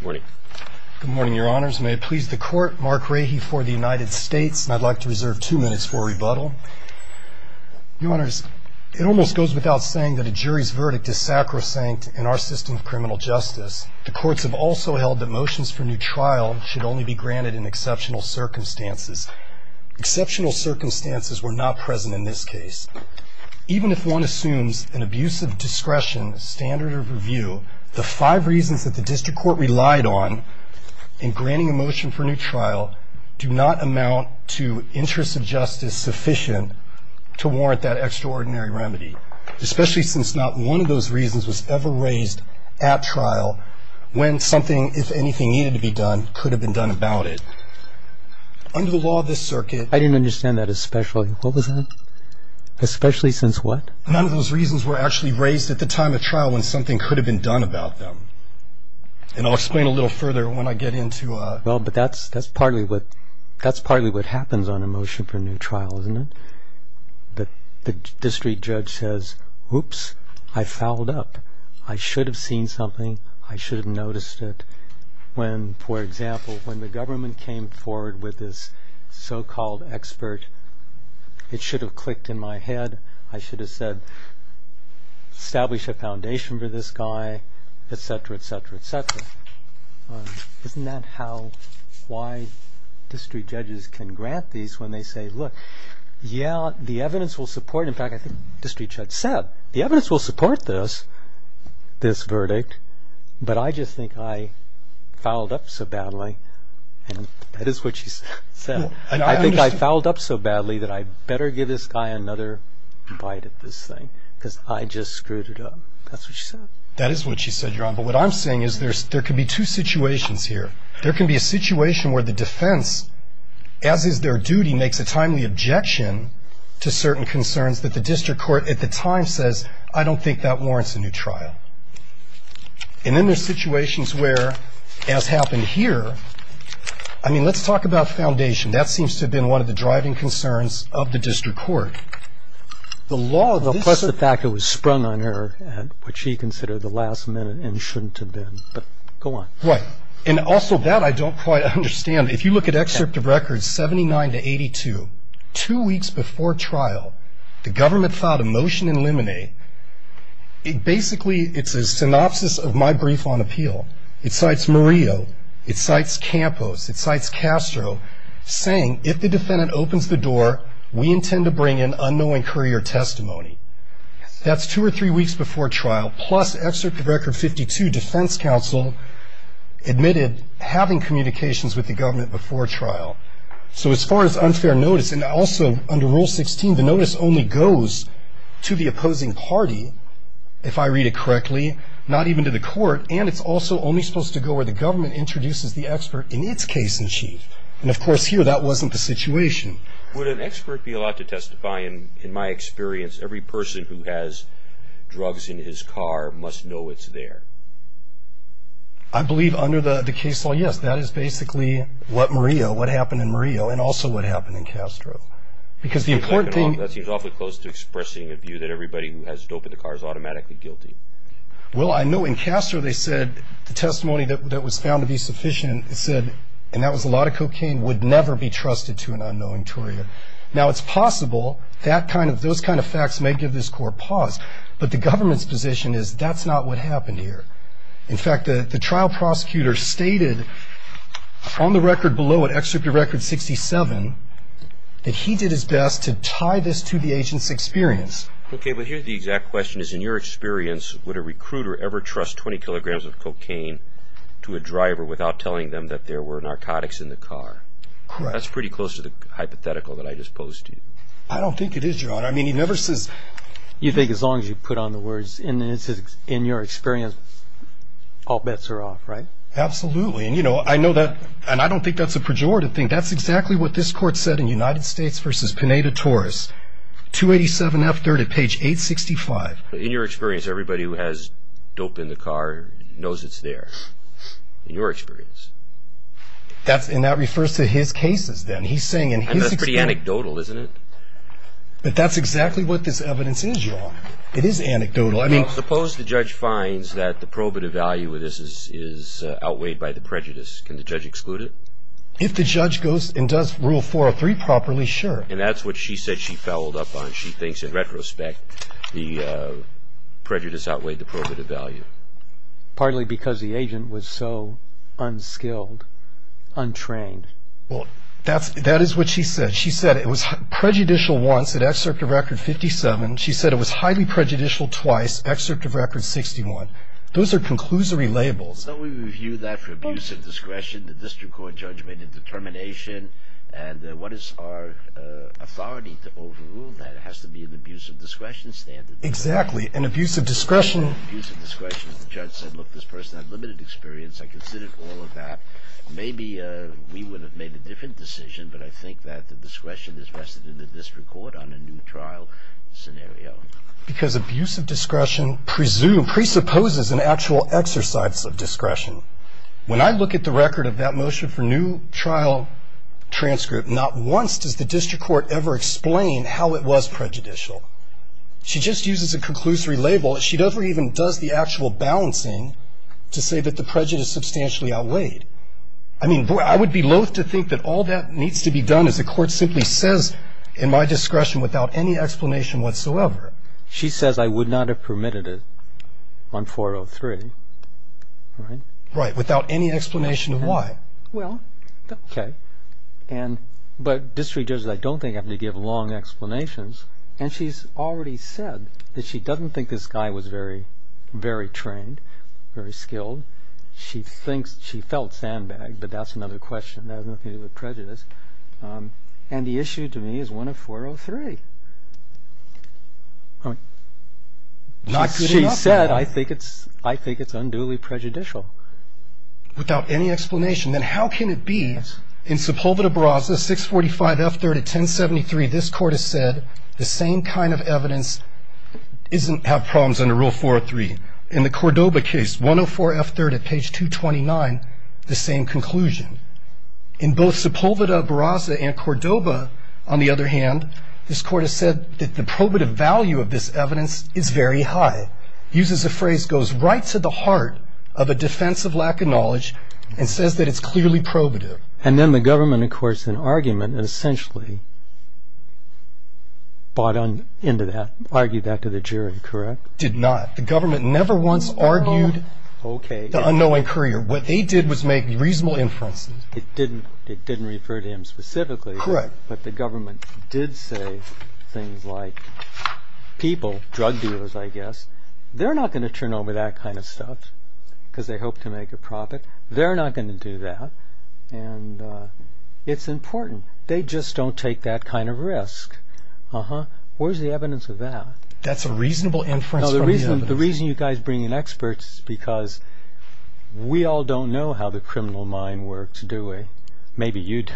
Good morning, your honors. May it please the court, Mark Rahy for the United States, and I'd like to reserve two minutes for rebuttal. Your honors, it almost goes without saying that a jury's verdict is sacrosanct in our system of criminal justice. The courts have also held that motions for new trial should only be granted in exceptional circumstances. Exceptional circumstances were not present in this case. Even if one assumes an abusive discretion standard of review, the five reasons that the district court relied on in granting a motion for new trial do not amount to interests of justice sufficient to warrant that extraordinary remedy, especially since not one of those reasons was ever raised at trial when something, if anything, needed to be done could have been done about it. Under the law of this circuit... I didn't understand that especially. What was that? Especially since what? None of those reasons were actually raised at the time of trial when something could have been done about them. And I'll explain a little further when I get into... Well, but that's partly what happens on a motion for new trial, isn't it? The district judge says, oops, I fouled up. I should have seen something. I should have noticed it. When, for example, when the government came forward with this so-called expert, it should have clicked in my head. I should have said, establish a foundation for this guy, etc., etc., etc. Isn't that how, why district judges can grant these when they say, look, yeah, the evidence will support... I think I fouled up so badly that I better give this guy another bite at this thing because I just screwed it up. That's what she said. That is what she said, Your Honor. But what I'm saying is there can be two situations here. There can be a situation where the defense, as is their duty, makes a timely objection to certain concerns that the district court at the time says, I don't think that warrants a new trial. And then there are situations where, as happened here, I mean, let's talk about foundation. That seems to have been one of the driving concerns of the district court. Plus the fact it was sprung on her at what she considered the last minute and shouldn't have been. But go on. Right. And also that I don't quite understand. If you look at excerpt of records 79 to 82, two weeks before trial, the government filed a motion in limine. It basically, it's a synopsis of my brief on appeal. It cites Murillo. It cites Campos. It cites Castro, saying if the defendant opens the door, we intend to bring in unknowing courier testimony. That's two or three weeks before trial. Plus excerpt of record 52, defense counsel admitted having communications with the government before trial. So as far as unfair notice, and also under Rule 16, the notice only goes to the opposing party, if I read it correctly. Not even to the court. And it's also only supposed to go where the government introduces the expert in its case in chief. And of course here, that wasn't the situation. Would an expert be allowed to testify? In my experience, every person who has drugs in his car must know it's there. I believe under the case law, yes. Because that is basically what Murillo, what happened in Murillo, and also what happened in Castro. Because the important thing. That seems awfully close to expressing a view that everybody who has dope in the car is automatically guilty. Well, I know in Castro they said the testimony that was found to be sufficient said, and that was a lot of cocaine, would never be trusted to an unknowing courier. Now it's possible that kind of, those kind of facts may give this court pause. But the government's position is that's not what happened here. In fact, the trial prosecutor stated on the record below, in Excerpt of Record 67, that he did his best to tie this to the agent's experience. Okay, but here's the exact question. In your experience, would a recruiter ever trust 20 kilograms of cocaine to a driver without telling them that there were narcotics in the car? Correct. That's pretty close to the hypothetical that I just posed to you. I don't think it is, Your Honor. I mean, he never says. You think as long as you put on the words, in your experience, all bets are off, right? Absolutely. And, you know, I know that, and I don't think that's a pejorative thing. That's exactly what this court said in United States v. Pineda-Torres, 287F30, page 865. In your experience, everybody who has dope in the car knows it's there, in your experience. And that refers to his cases, then. He's saying in his experience. And that's pretty anecdotal, isn't it? But that's exactly what this evidence is, Your Honor. It is anecdotal. I mean, suppose the judge finds that the probative value of this is outweighed by the prejudice. Can the judge exclude it? If the judge goes and does Rule 403 properly, sure. And that's what she said she fouled up on. She thinks, in retrospect, the prejudice outweighed the probative value. Partly because the agent was so unskilled, untrained. Well, that is what she said. She said it was prejudicial once at Excerpt of Record 57. She said it was highly prejudicial twice, Excerpt of Record 61. Those are conclusory labels. So we review that for abuse of discretion. The district court judge made a determination. And what is our authority to overrule that? It has to be an abuse of discretion standard. Exactly. An abuse of discretion. An abuse of discretion. The judge said, look, this person had limited experience. I considered all of that. Maybe we would have made a different decision. But I think that the discretion is vested in the district court on a new trial scenario. Because abuse of discretion presupposes an actual exercise of discretion. When I look at the record of that motion for new trial transcript, not once does the district court ever explain how it was prejudicial. She just uses a conclusory label. She never even does the actual balancing to say that the prejudice substantially outweighed. I mean, I would be loath to think that all that needs to be done is the court simply says, in my discretion, without any explanation whatsoever. She says I would not have permitted it on 403. Right? Right. Without any explanation of why. Well, okay. But district judges, I don't think, have to give long explanations. And she's already said that she doesn't think this guy was very trained, very skilled. She felt sandbagged, but that's another question. That has nothing to do with prejudice. And the issue to me is 104.03. I mean, she said I think it's unduly prejudicial. Without any explanation. Then how can it be in Sepulveda-Brasa, 645.F3 at 1073, this court has said the same kind of evidence doesn't have problems under Rule 403. In the Cordoba case, 104.F3 at page 229, the same conclusion. In both Sepulveda-Brasa and Cordoba, on the other hand, this court has said that the probative value of this evidence is very high. It uses a phrase that goes right to the heart of a defense of lack of knowledge and says that it's clearly probative. And then the government, of course, in argument, essentially bought into that, argued that to the jury, correct? It did not. The government never once argued the unknowing courier. What they did was make reasonable inferences. It didn't refer to him specifically, but the government did say things like, people, drug dealers, I guess, they're not going to turn over that kind of stuff because they hope to make a profit. They're not going to do that. And it's important. They just don't take that kind of risk. Where's the evidence of that? That's a reasonable inference. The reason you guys bring in experts is because we all don't know how the criminal mind works, do we? Maybe you do.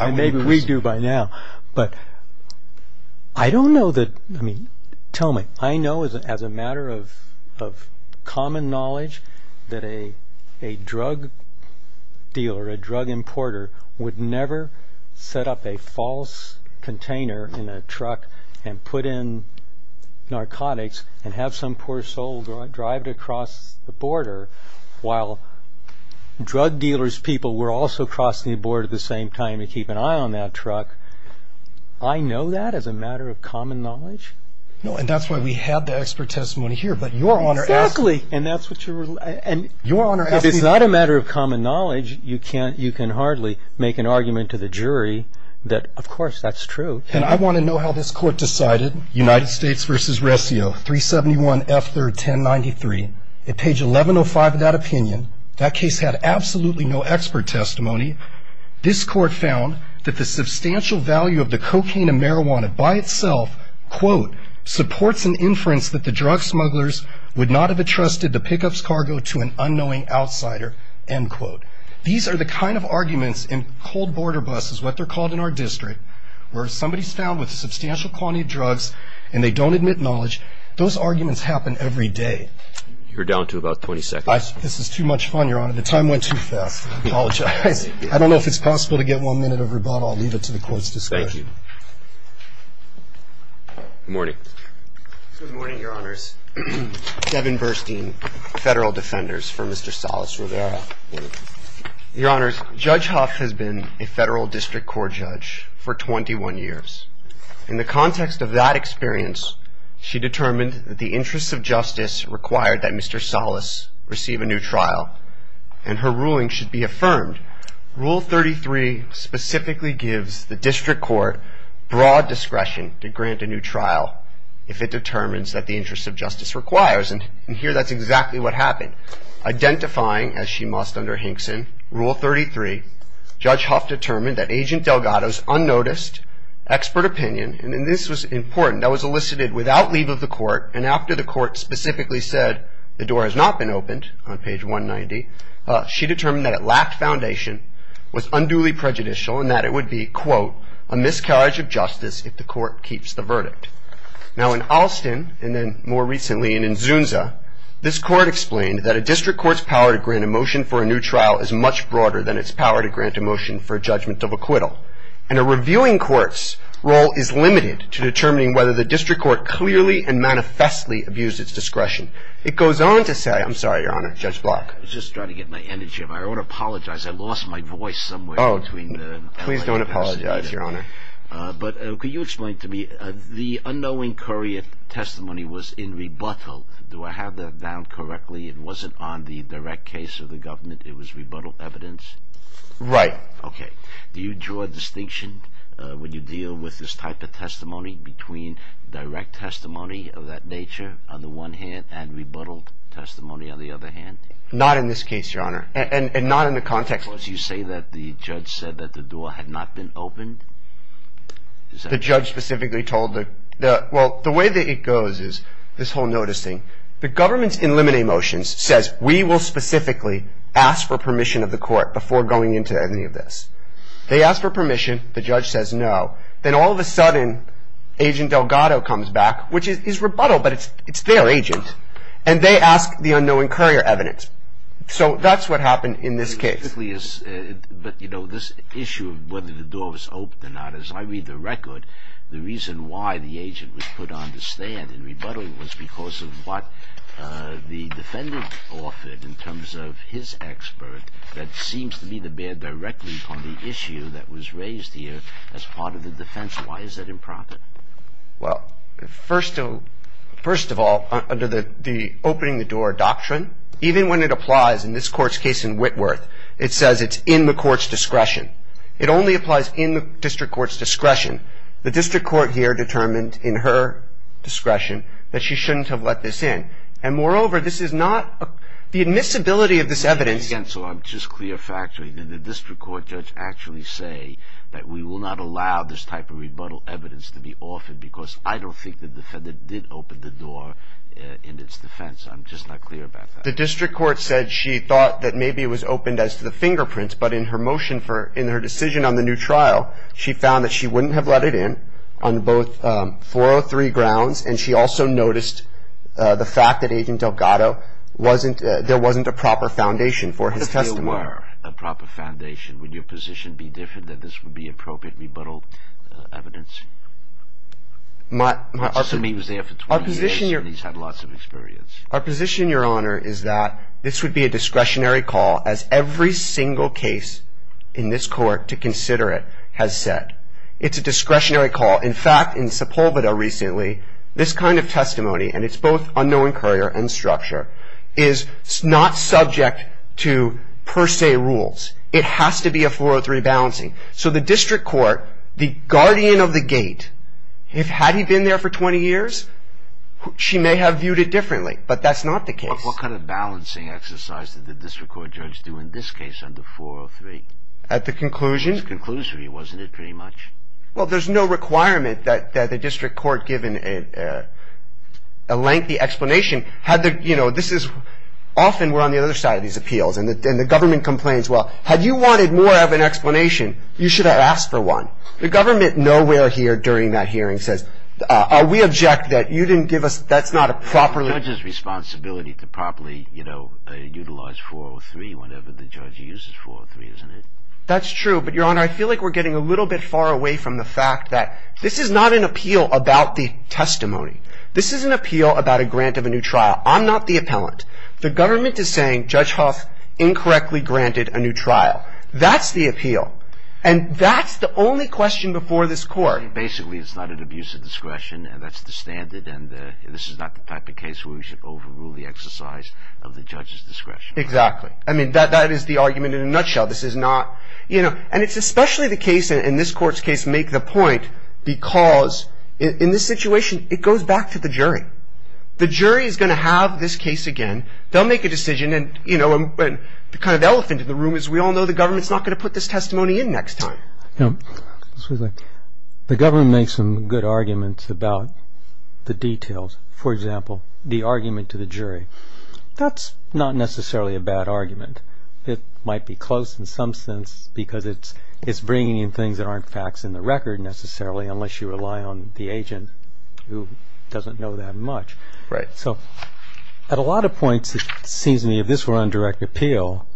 Maybe we do by now. But I don't know that, I mean, tell me. I know as a matter of common knowledge that a drug dealer, a drug importer, would never set up a false container in a truck and put in narcotics and have some poor soul drive it across the border while drug dealers' people were also crossing the border at the same time to keep an eye on that truck. I know that as a matter of common knowledge. No, and that's why we have the expert testimony here. But Your Honor asked me. Exactly. And that's what you were, and Your Honor asked me. It's not a matter of common knowledge. You can hardly make an argument to the jury that, of course, that's true. And I want to know how this Court decided. United States v. Reseo, 371 F. 3rd, 1093. At page 1105 of that opinion, that case had absolutely no expert testimony. This Court found that the substantial value of the cocaine and marijuana by itself, quote, These are the kind of arguments in cold border buses, what they're called in our district, where somebody's found with a substantial quantity of drugs and they don't admit knowledge. Those arguments happen every day. You're down to about 20 seconds. This is too much fun, Your Honor. The time went too fast. I apologize. I don't know if it's possible to get one minute of rebuttal. I'll leave it to the Court's discretion. Thank you. Good morning. Good morning, Your Honors. Devin Burstein, Federal Defenders for Mr. Salas Rivera. Your Honors, Judge Huff has been a Federal District Court judge for 21 years. In the context of that experience, she determined that the interests of justice required that Mr. Salas receive a new trial, and her ruling should be affirmed. Rule 33 specifically gives the District Court broad discretion to grant a new trial if it determines that the interests of justice requires, and here that's exactly what happened. Identifying, as she must under Hinkson, Rule 33, Judge Huff determined that Agent Delgado's unnoticed expert opinion, and this was important, that was elicited without leave of the Court, and after the Court specifically said the door has not been opened, on page 190, she determined that it lacked foundation, was unduly prejudicial, and that it would be, quote, a miscarriage of justice if the Court keeps the verdict. Now in Alston, and then more recently in Inzunza, this Court explained that a District Court's power to grant a motion for a new trial is much broader than its power to grant a motion for a judgment of acquittal, and a reviewing Court's role is limited to determining whether the District Court clearly and manifestly abused its discretion. It goes on to say, I'm sorry, Your Honor, Judge Block. I was just trying to get my energy up. I want to apologize. I lost my voice somewhere. Oh, please don't apologize, Your Honor. But could you explain to me, the unknowing courier testimony was in rebuttal. Do I have that down correctly? It wasn't on the direct case of the government. It was rebuttal evidence? Right. Okay. Do you draw a distinction when you deal with this type of testimony between direct testimony of that nature on the one hand, and rebuttal testimony on the other hand? Not in this case, Your Honor, and not in the context. You say that the judge said that the door had not been opened? The judge specifically told the – well, the way that it goes is this whole notice thing. The government's in limine motions says, we will specifically ask for permission of the Court before going into any of this. They ask for permission. The judge says no. Then all of a sudden, Agent Delgado comes back, which is rebuttal, but it's their agent, and they ask the unknowing courier evidence. So that's what happened in this case. But, you know, this issue of whether the door was open or not, as I read the record, the reason why the agent was put on the stand in rebuttal was because of what the defendant offered in terms of his expert that seems to be the bear directly on the issue that was raised here as part of the defense. Why is that improper? Well, first of all, under the opening the door doctrine, even when it applies in this Court's case in Whitworth, it says it's in the Court's discretion. It only applies in the District Court's discretion. The District Court here determined in her discretion that she shouldn't have let this in. And moreover, this is not – the admissibility of this evidence – Again, so I'm just clear factoring. Did the District Court judge actually say that we will not allow this type of rebuttal evidence to be offered because I don't think the defendant did open the door in its defense? I'm just not clear about that. The District Court said she thought that maybe it was opened as to the fingerprints, but in her motion for – in her decision on the new trial, she found that she wouldn't have let it in on both 403 grounds, and she also noticed the fact that Agent Delgado wasn't – there wasn't a proper foundation for his testimony. If there were a proper foundation, would your position be different that this would be appropriate rebuttal evidence? My – I mean, he was there for 20 years, and he's had lots of experience. Our position, Your Honor, is that this would be a discretionary call, as every single case in this Court to consider it has said. It's a discretionary call. In fact, in Sepulveda recently, this kind of testimony – and it's both unknown courier and structure – is not subject to per se rules. It has to be a 403 balancing. So the District Court, the guardian of the gate, had he been there for 20 years, she may have viewed it differently, but that's not the case. But what kind of balancing exercise did the District Court judge do in this case under 403? At the conclusion? It was a conclusory, wasn't it, pretty much? Well, there's no requirement that the District Court, given a lengthy explanation, had the – you know, this is – often we're on the other side of these appeals, and the government complains, well, had you wanted more of an explanation, you should have asked for one. The government nowhere here during that hearing says, we object that you didn't give us – that's not a properly – It's the judge's responsibility to properly, you know, utilize 403 whenever the judge uses 403, isn't it? That's true, but, Your Honor, I feel like we're getting a little bit far away from the fact that this is not an appeal about the testimony. This is an appeal about a grant of a new trial. I'm not the appellant. The government is saying Judge Hough incorrectly granted a new trial. That's the appeal. And that's the only question before this Court. Basically, it's not an abuse of discretion, and that's the standard, and this is not the type of case where we should overrule the exercise of the judge's discretion. Exactly. I mean, that is the argument in a nutshell. This is not – you know, and it's especially the case, and this Court's case make the point because in this situation, it goes back to the jury. The jury is going to have this case again. They'll make a decision, and, you know, the kind of elephant in the room is we all know the government's not going to put this testimony in next time. No. The government makes some good arguments about the details. For example, the argument to the jury. That's not necessarily a bad argument. It might be close in some sense because it's bringing in things that aren't facts in the record necessarily unless you rely on the agent who doesn't know that much. Right. So at a lot of points, it seems to me, if this were on direct appeal,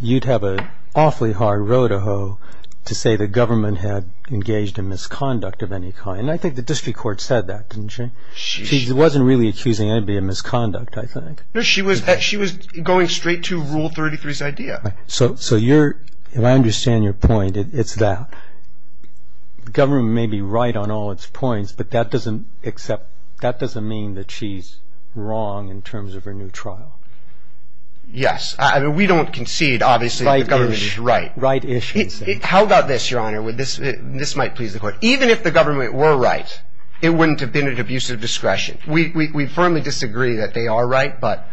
you'd have an awfully hard road to hoe to say the government had engaged in misconduct of any kind. And I think the district court said that, didn't she? She wasn't really accusing anybody of misconduct, I think. No, she was going straight to Rule 33's idea. So you're – and I understand your point. It's that the government may be right on all its points, but that doesn't mean that she's wrong in terms of her new trial. Yes. I mean, we don't concede, obviously, that the government is right. Right-ish. How about this, Your Honor? This might please the court. Even if the government were right, it wouldn't have been at abusive discretion. We firmly disagree that they are right, but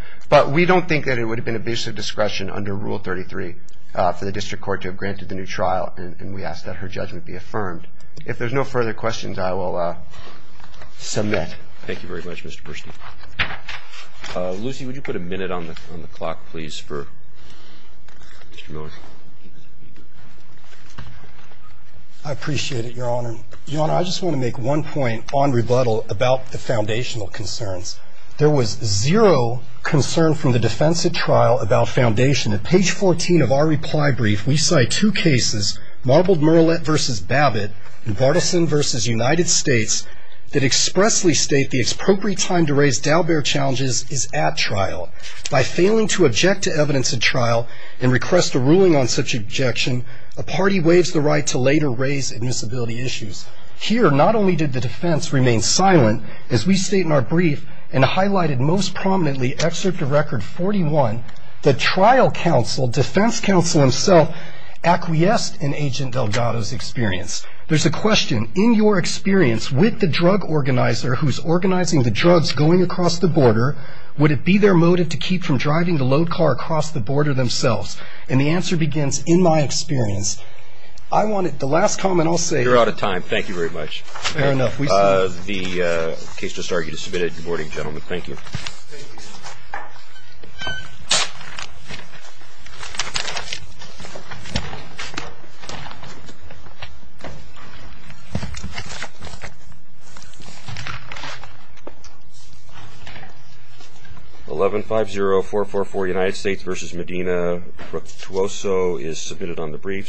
we don't think that it would have been abusive discretion under Rule 33 for the district court to have granted the new trial, and we ask that her judgment be affirmed. If there's no further questions, I will submit. Thank you very much, Mr. Burstein. Lucy, would you put a minute on the clock, please, for Mr. Miller? I appreciate it, Your Honor. Your Honor, I just want to make one point on rebuttal about the foundational concerns. There was zero concern from the defense at trial about foundation. At page 14 of our reply brief, we cite two cases, Marbled-Murillette v. Babbitt and Bartleson v. United States, that expressly state the appropriate time to raise Dalbert challenges is at trial. By failing to object to evidence at trial and request a ruling on such objection, a party waives the right to later raise admissibility issues. Here, not only did the defense remain silent, as we state in our brief, and highlighted most prominently, Excerpt of Record 41, the trial counsel, defense counsel himself, acquiesced in Agent Delgado's experience. There's a question. In your experience with the drug organizer who's organizing the drugs going across the border, would it be their motive to keep from driving the load car across the border themselves? And the answer begins, in my experience, I wanted the last comment I'll say. You're out of time. Thank you very much. Fair enough. The case just argued is submitted. Good morning, gentlemen. Thank you. 1150444 United States v. Medina. Brooke Tuoso is submitted on the brief.